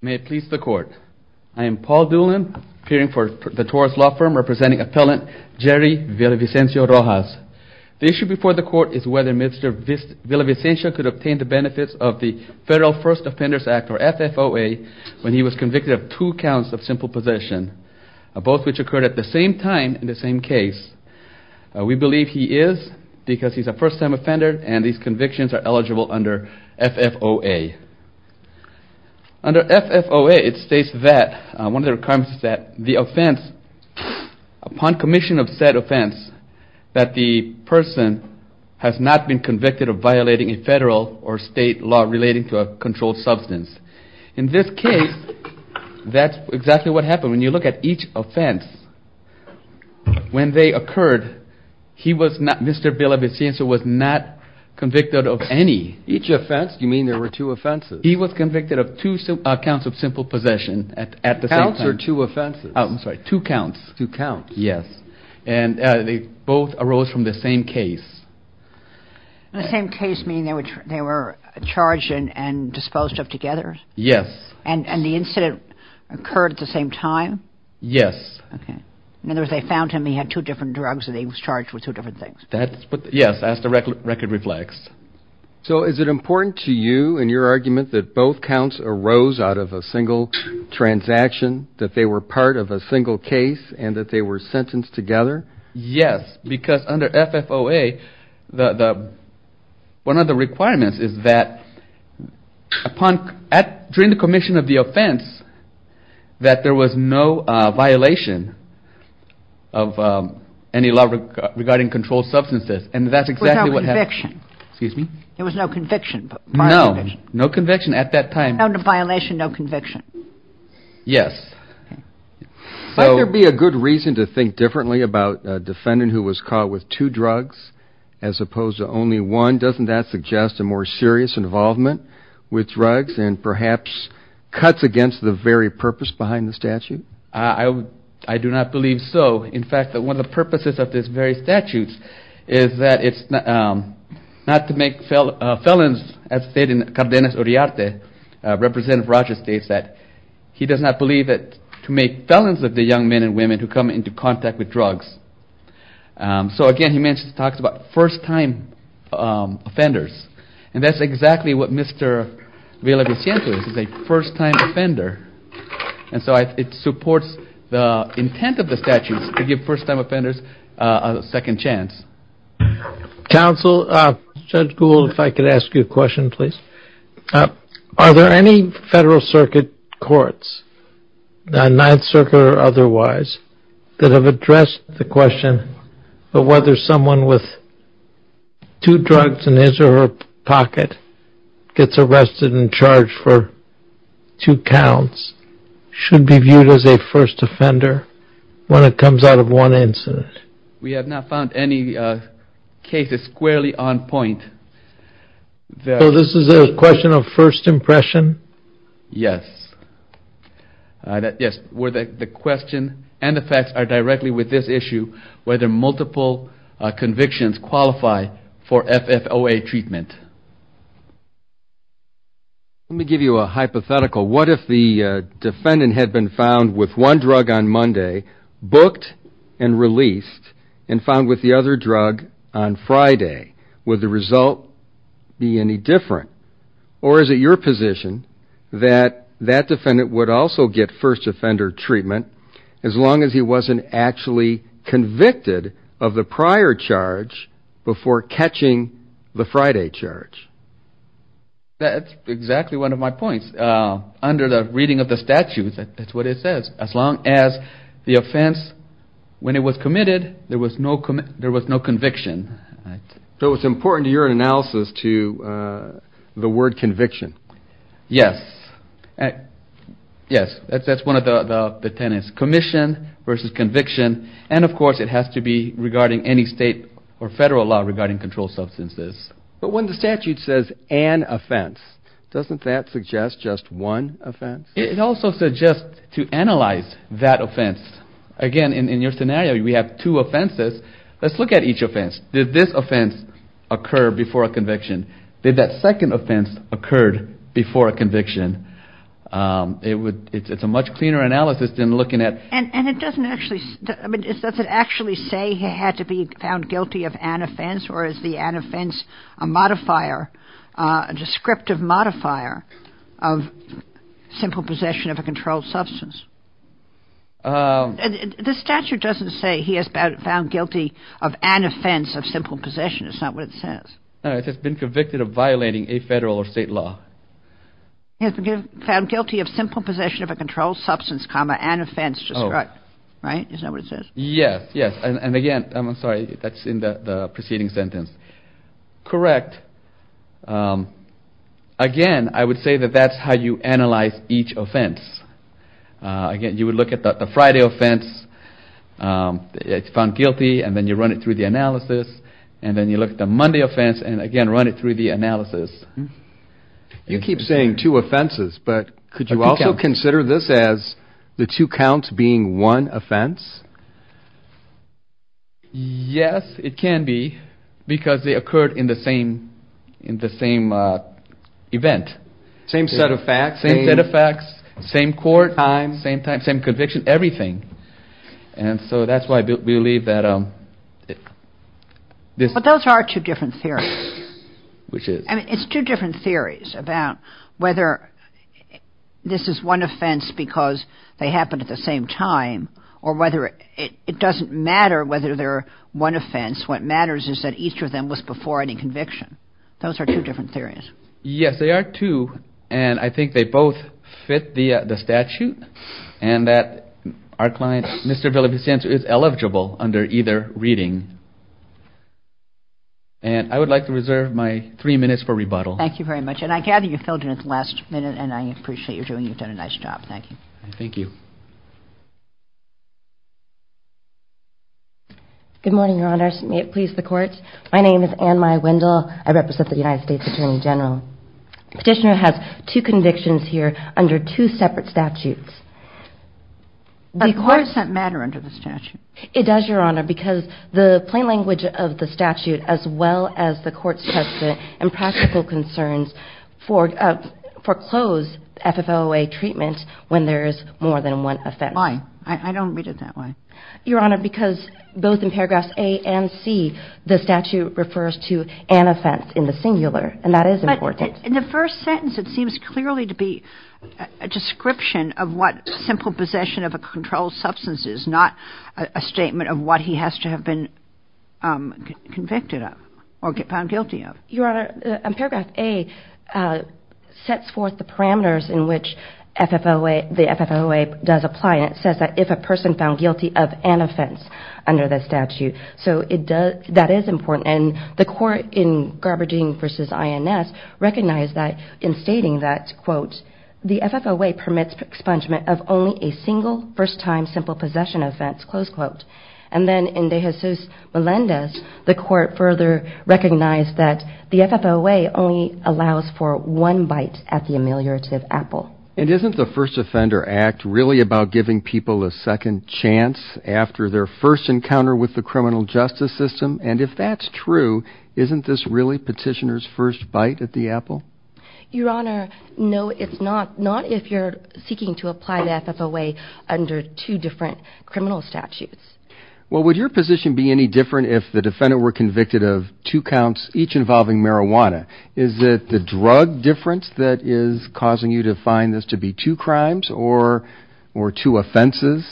May it please the court. I am Paul Doolin, appearing for the Taurus Law Firm, representing appellant Jerry Villavicencio-Rojas. The issue before the court is whether Mr. Villavicencio could obtain the benefits of the Federal First Offenders Act, or FFOA, when he was convicted of two counts of simple possession, both which occurred at the same time in the same case. We believe he is, because he's a first-time offender and these convictions are eligible under FFOA. Under FFOA, it states that, one of the requirements is that the offense, upon commission of said offense, that the person has not been convicted of violating a Federal or State law relating to a controlled substance. In this case, that's exactly what happened. When you look at each offense, when they occurred, he was not, Mr. Villavicencio was not convicted of any. Each offense, you mean there were two offenses? He was convicted of two counts of simple possession at the same time. Counts or two offenses? Oh, I'm sorry, two counts. Two counts. Yes. And they both arose from the same case. The same case, meaning they were charged and disposed of together? Yes. And the incident occurred at the same time? Yes. Okay. In other words, they found him, he had two different drugs and he was charged with two different things. Yes, that's the record reflects. So is it important to you and your argument that both counts arose out of a single transaction, that they were part of a single case and that they were sentenced together? Yes, because under FFOA, one of the requirements is that, during the commission of the offense, that there was no violation of any law regarding controlled substances. And that's exactly what happened. There was no conviction. No, no conviction at that time. No violation, no conviction. Yes. Might there be a good reason to think differently about a defendant who was caught with two drugs as opposed to only one? Doesn't that suggest a more serious involvement with drugs and perhaps cuts against the very purpose behind the statute? I do not believe so. In fact, one of the purposes of this very statute is that it's not to make felons, as stated in Cardenas Uriarte, Representative Rogers states that he does not believe that to make felons of the young men and women who come into contact with drugs. So again, he mentions, talks about first-time offenders. And that's exactly what Mr. Villaviciento is, is a first-time offender. And so it supports the intent of the statutes to give first-time offenders a second chance. Counsel, Judge Gould, if I could ask you a question, please. Are there any Federal Circuit Courts, the Ninth Circuit or otherwise, that have addressed the question of whether someone with two drugs in his or her pocket gets arrested and charged for two counts should be viewed as a first offender when it comes out of one incident? We have not found any cases squarely on point. So this is a question of first impression? Yes. Yes, the question and the facts are directly with this issue, whether multiple convictions qualify for FFOA treatment. Let me give you a hypothetical. What if the defendant had been found with one drug on Monday, booked and released, and found with the other drug on Friday? Would the result be any different? Or is it your position that that defendant would also get first offender treatment as long as he wasn't actually convicted of the prior charge before catching the Friday charge? That's exactly one of my points. Under the reading of the statutes, that's what it says. As long as the offense, when it was committed, there was no conviction. So it's important to your analysis to the word conviction? Yes. Yes, that's one of the tenets. Commission versus conviction. And of course, it has to be regarding any state or federal law regarding controlled substances. But when the statute says an offense, doesn't that suggest just one offense? It also suggests to analyze that offense. Again, in your scenario, we have two offenses. Let's look at each offense. Did this offense occur before a conviction? Did that second offense occur before a conviction? It's a much cleaner analysis than looking at... And does it actually say he had to be found guilty of an offense, or is the an offense a modifier, a descriptive modifier of simple possession of a controlled substance? The statute doesn't say he has found guilty of an offense of simple possession. It's not what it says. It says he's been convicted of violating a federal or state law. He has been found guilty of simple possession of a controlled substance, comma, an offense, describe. Right? Is that what it says? Yes. Yes. And again, I'm sorry, that's in the preceding sentence. Correct. Again, I would say that that's how you analyze each offense. Again, you would look at the Friday offense, it's found guilty, and then you run it through the analysis, and then you look at the Monday offense, and again, run it through the analysis. You keep saying two offenses, but could you also consider this as the two counts being one offense? Yes, it can be, because they occurred in the same event. Same set of facts, same court, same time, same conviction, everything. And so that's why I believe that... But those are two different theories. Which is? I mean, it's two different theories about whether this is one offense because they happened at the same time, or whether it doesn't matter whether they're one offense. What matters is that each of them was before any conviction. Those are two different theories. Yes, they are two, and I think they both fit the statute, and that our client, Mr. Villavicencio, is eligible under either reading. And I would like to reserve my three minutes for rebuttal. Thank you very much. And I gather you filled in at the last minute, and I appreciate your doing. You've done a nice job. Thank you. Thank you. Good morning, Your Honor. May it please the Court. My name is Ann Mai Wendell. I represent the United States Attorney General. Petitioner has two convictions here under two separate statutes. But does that matter under the statute? It does, Your Honor, because the plain language of the statute, as well as the court's precedent and practical concerns, foreclose FFOA treatment when there is more than one offense. Why? I don't read it that way. Your Honor, because both in paragraphs A and C, the statute refers to an offense in the singular, and that is important. But in the first sentence, it seems clearly to be a description of what simple possession of a controlled substance is, not a statement of what he has to have been convicted of or found guilty of. Your Honor, paragraph A sets forth the parameters in which the FFOA does apply, and it says that if a person found guilty of an offense under the statute. So that is important. And the court in Garberdine v. INS recognized that in stating that, quote, the FFOA permits expungement of only a single first-time simple possession offense, close further recognized that the FFOA only allows for one bite at the ameliorative apple. And isn't the First Offender Act really about giving people a second chance after their first encounter with the criminal justice system? And if that's true, isn't this really petitioner's first bite at the apple? Your Honor, no, it's not. Not if you're seeking to apply the FFOA under two different criminal statutes. Well, would your position be any different if the defendant were convicted of two counts, each involving marijuana? Is it the drug difference that is causing you to find this to be two crimes or two offenses?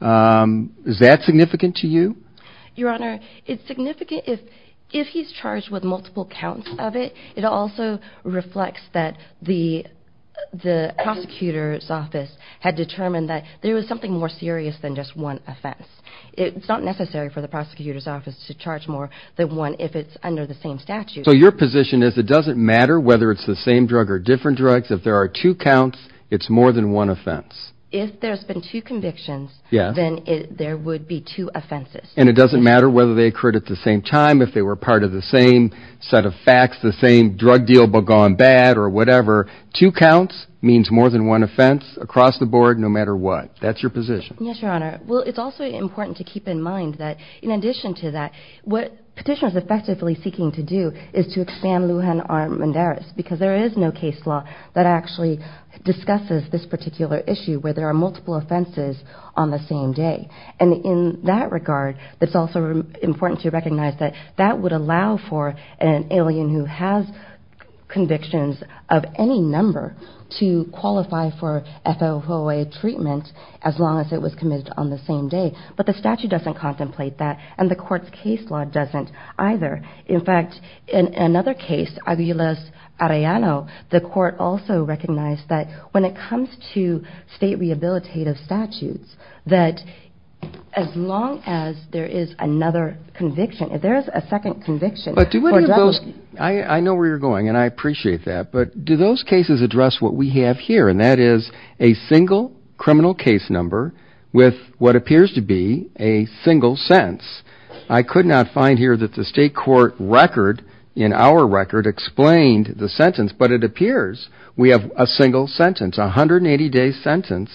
Is that significant to you? Your Honor, it's significant if he's charged with multiple counts of it. It also reflects that the prosecutor's office had determined that there was something more serious than just one offense. It's not necessary for the prosecutor's office to charge more than one if it's under the same statute. So your position is it doesn't matter whether it's the same drug or different drugs. If there are two counts, it's more than one offense. If there's been two convictions, then there would be two offenses. And it doesn't matter whether they occurred at the same time, if they were part of the same set of facts, the same drug deal gone bad or whatever. Two counts means more than one offense across the board no matter what. That's your position. Yes, Your Honor. Well, it's also important to keep in mind that in addition to that, what petitioners are effectively seeking to do is to expand Lujan Armendariz because there is no case law that actually discusses this particular issue where there are multiple offenses on the same day. And in that regard, it's also important to recognize that that would allow for an alien who has convictions of any number to qualify for FOA treatment as long as it was committed on the same day. But the statute doesn't contemplate that and the court's case law doesn't either. In fact, in another case, Aviles Arellano, the court also recognized that when it comes to state rehabilitative statutes, that as long as there is another conviction, if there is a second conviction for drug use. I know where you're going and I appreciate that, but do those cases address what we have here and that is a single criminal case number with what appears to be a single sentence. I could not find here that the state court record in our record explained the sentence, but it appears we have a single sentence, a 180-day sentence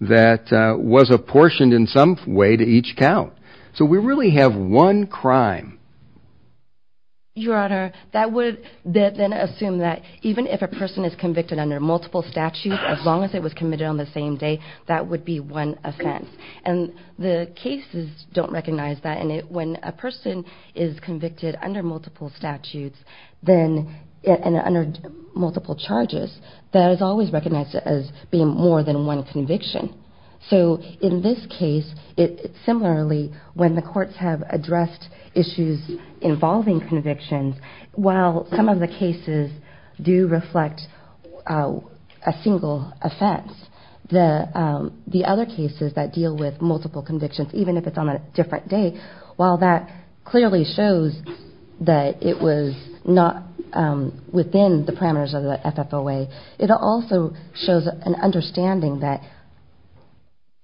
that was apportioned in some way to each count. So we really have one crime. Your Honor, that would then assume that even if a person is convicted under multiple statutes as long as it was committed on the same day, that would be one offense. And the cases don't recognize that and when a person is convicted under multiple statutes and under multiple charges, that is always recognized as being more than one conviction. So in this case, similarly when the courts have addressed issues involving convictions, while some of the cases do reflect a single offense, the other cases that deal with multiple convictions, even if it's on a different day, while that clearly shows that it was not within the parameters of the FFOA, it also shows an understanding that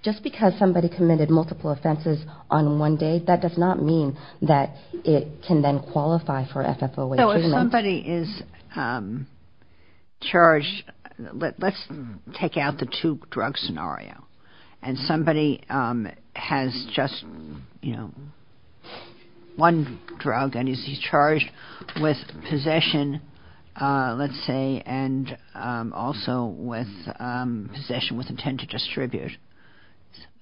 just because somebody committed multiple offenses on one day, that does not mean that it can then qualify for FFOA treatment. So if somebody is charged, let's take out the two-drug scenario and somebody has just one drug and he's charged with possession, let's say, and also with possession with intent to distribute,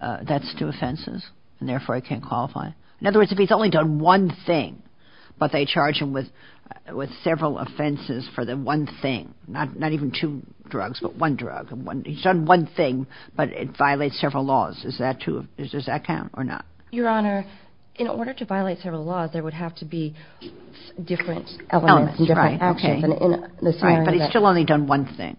that's two offenses and therefore it can't qualify. In other words, if he's only done one thing, but they charge him with several offenses for the one thing, not even two drugs, but one drug. He's done one thing, but it violates several laws. Does that count or not? Your Honor, in order to violate several laws, there would have to be different elements and different actions. But he's still only done one thing.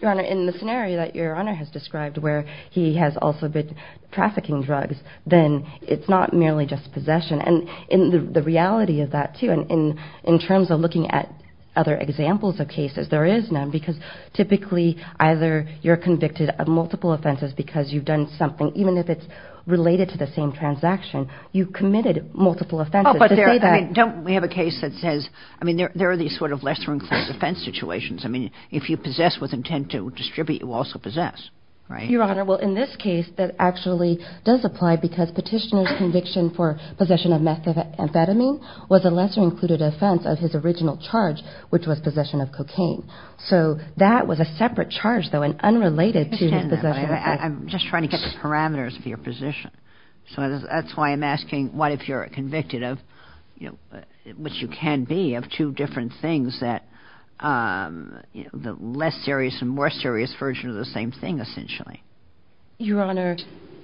Your Honor, in the scenario that Your Honor has described where he has also been trafficking drugs, then it's not merely just possession. And in the reality of that too, in terms of looking at other examples of cases, there is none because typically either you're convicted of multiple offenses because you've done something, even if it's related to the same transaction, you've committed multiple offenses. Oh, but don't we have a case that says, I mean, there are these sort of lesser-included offense situations. I mean, if you possess with intent to distribute, you also possess, right? Your Honor, well, in this case, that actually does apply because petitioner's conviction for possession of methamphetamine was a lesser-included offense of his original charge, which was possession of cocaine. So that was a separate charge though and unrelated to his possession. I'm just trying to get the parameters of your position. So that's why I'm asking, what if you're convicted of, you know, which you can be, of two different things that, you know, the less serious and more serious version of the same thing, essentially. Your Honor,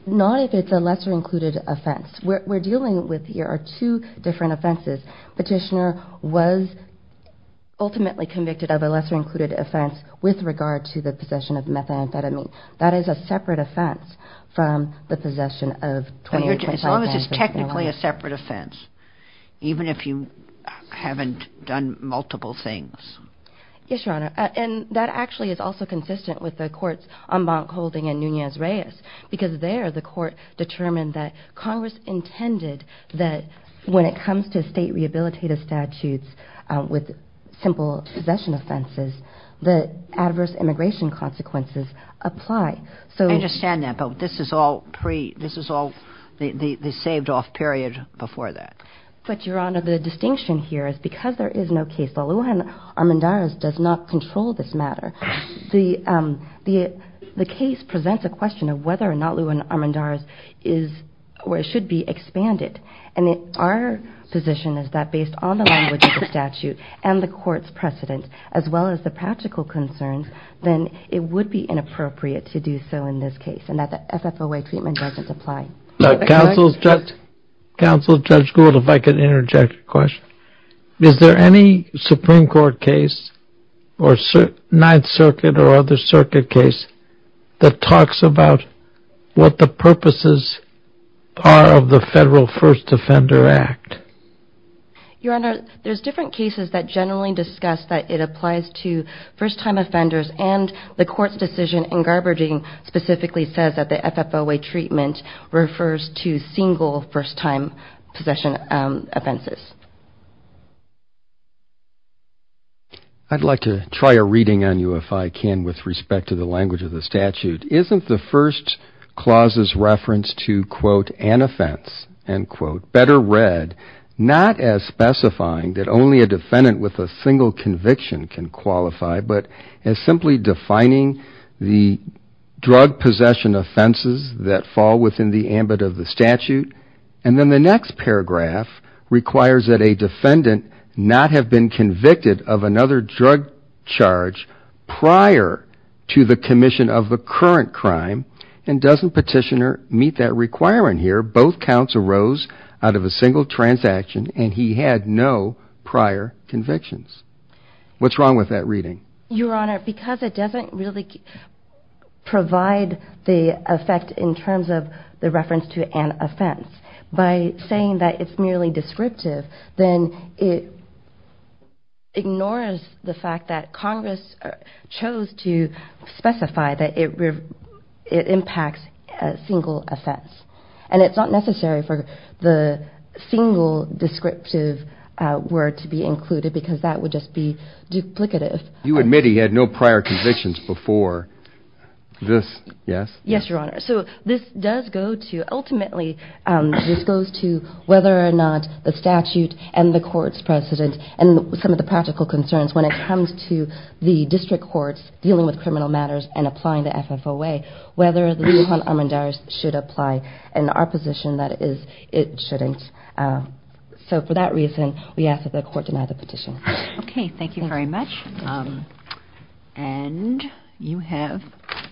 not if it's a lesser-included offense. We're dealing with, there are two different offenses. Petitioner was ultimately convicted of a lesser-included offense with regard to the possession of methamphetamine. That is a separate offense from the possession of 28-25-5. As long as it's technically a separate offense, even if you haven't done multiple things. Yes, Your Honor. And that actually is also consistent with the court's en banc holding in Nunez-Reyes because there, the court determined that Congress intended that when it comes to state rehabilitative statutes with simple possession offenses, the adverse immigration consequences apply. I understand that, but this is all pre, this is all the saved-off period before that. But Your Honor, the distinction here is because there is no case law. Lujan Armendariz does not control this matter. The case presents a question of whether or not Lujan Armendariz is, or should be expanded. And our position is that based on the language of the statute and the court's precedent, as well as the practical concerns, then it would be inappropriate to do so in this case and that the FFOA treatment doesn't apply. Counsel, Judge Gould, if I could interject a question. Is there any Supreme Court case that talks about what the purposes are of the Federal First Offender Act? Your Honor, there's different cases that generally discuss that it applies to first-time offenders and the court's decision in Garberding specifically says that the FFOA treatment refers to single first-time possession offenses. I'd like to try a reading on you if I can with respect to the language of the statute. Isn't the first clause's reference to, quote, an offense, end quote, better read not as specifying that only a defendant with a single conviction can qualify, but as simply defining the drug possession offenses that fall within the ambit of the statute? And then the next paragraph requires that a defendant not have been convicted of another drug charge prior to the commission of the current crime, and doesn't petitioner meet that requirement here? Both counts arose out of a single transaction and he had no prior convictions. What's wrong with that reading? Your Honor, because it doesn't really provide the effect in terms of the reference to an offense, by saying that it's merely descriptive, then it ignores the fact that Congress chose to specify that it impacts a single offense. And it's not necessary for the single descriptive word to be included because that would just be duplicative. You admit he had no prior convictions before this, yes? Yes, Your Honor. So this does go to, ultimately, this goes to whether or not the statute and the court's precedent, and some of the practical concerns when it comes to the district courts dealing with criminal matters and applying the FFOA, whether the law on armandires should apply. In our position, that is, it shouldn't. So for that reason, we ask that the court deny the petition. Okay, thank you very much. And you have, it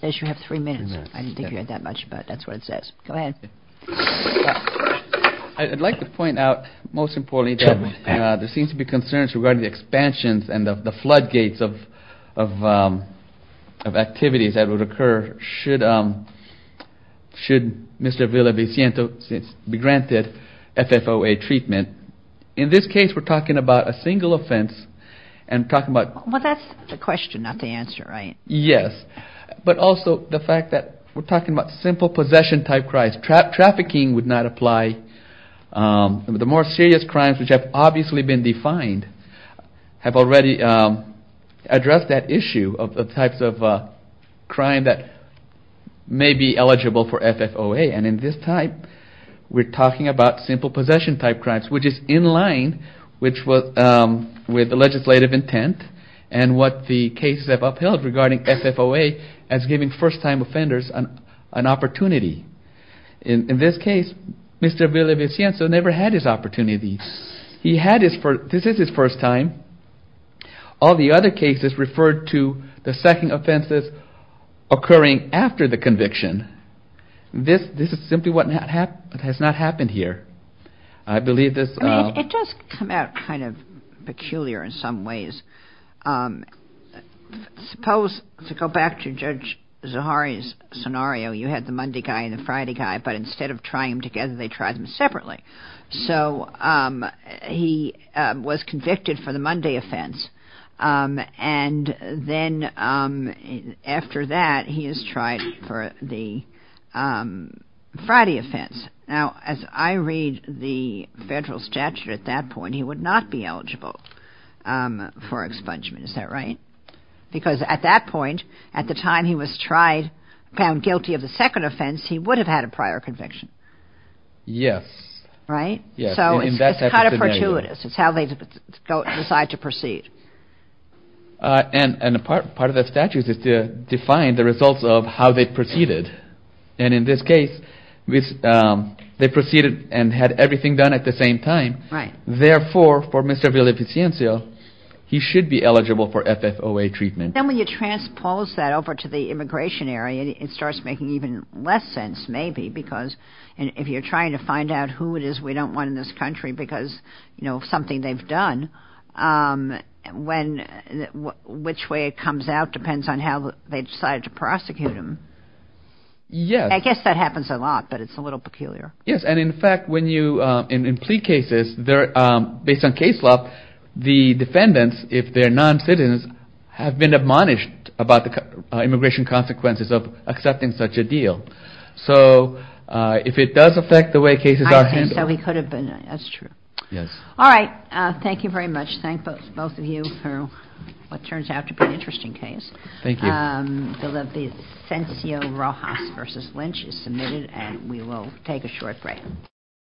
says you have three minutes. I didn't think you had that much, but that's what it says. Go ahead. I'd like to point out, most importantly, that there seems to be concerns regarding the expansions and the floodgates of activities that would occur should Mr. Villaviciento be granted FFOA treatment. In this case, we're talking about a single offense and talking about... Well, that's the question, not the answer, right? Yes, but also the fact that we're talking about simple possession-type crimes. Trafficking would not apply. The more serious crimes, which have obviously been defined, have already addressed that issue of the types of crime that may be eligible for FFOA. And in this type, we're talking about simple possession-type crimes, which is in line with the legislative intent and what the cases have upheld regarding FFOA as giving first-time offenders an opportunity. In this case, Mr. Villaviciento never had his opportunity. He had his... This is his first time. All the other cases referred to the second offenses occurring after the conviction. This is simply what has not happened here. I believe this... It does come out kind of peculiar in some ways. Suppose, to go back to Judge Zahari's scenario, you had the Monday guy and the Friday guy, but instead of trying them together, they tried them separately. So he was convicted for the Monday offense, and then after that, he is tried for the Friday offense. Now, as I read the federal statute at that point, he would not be eligible for expungement. Is that right? Because at that point, at the time he was tried, found guilty of the second offense, he would have had a prior conviction. Yes. Right? Yes. So it's kind of fortuitous. It's how they decide to proceed. And part of the statute is to define the results of how they proceeded. And in this case, they proceeded and had everything done at the same time. Right. Therefore, for Mr. Villaviciento, he should be eligible for FFOA treatment. Then when you transpose that over to the immigration area, it starts making even less sense, maybe, because if you're trying to find out who it is we don't want in this country because something they've done, which way it comes out depends on how they decided to prosecute him. Yes. I guess that happens a lot, but it's a little peculiar. Yes. And in fact, in plea cases, based on case law, the defendants, if they're non-citizens, have been admonished about the immigration consequences of accepting such a deal. So if it does affect the way cases are handled... I think so. It could have been. That's true. Yes. All right. Thank you very much. Thank both of you for what turns out to be an interesting case. Thank you. Villavicencio Rojas v. Lynch is submitted, and we will take a short break.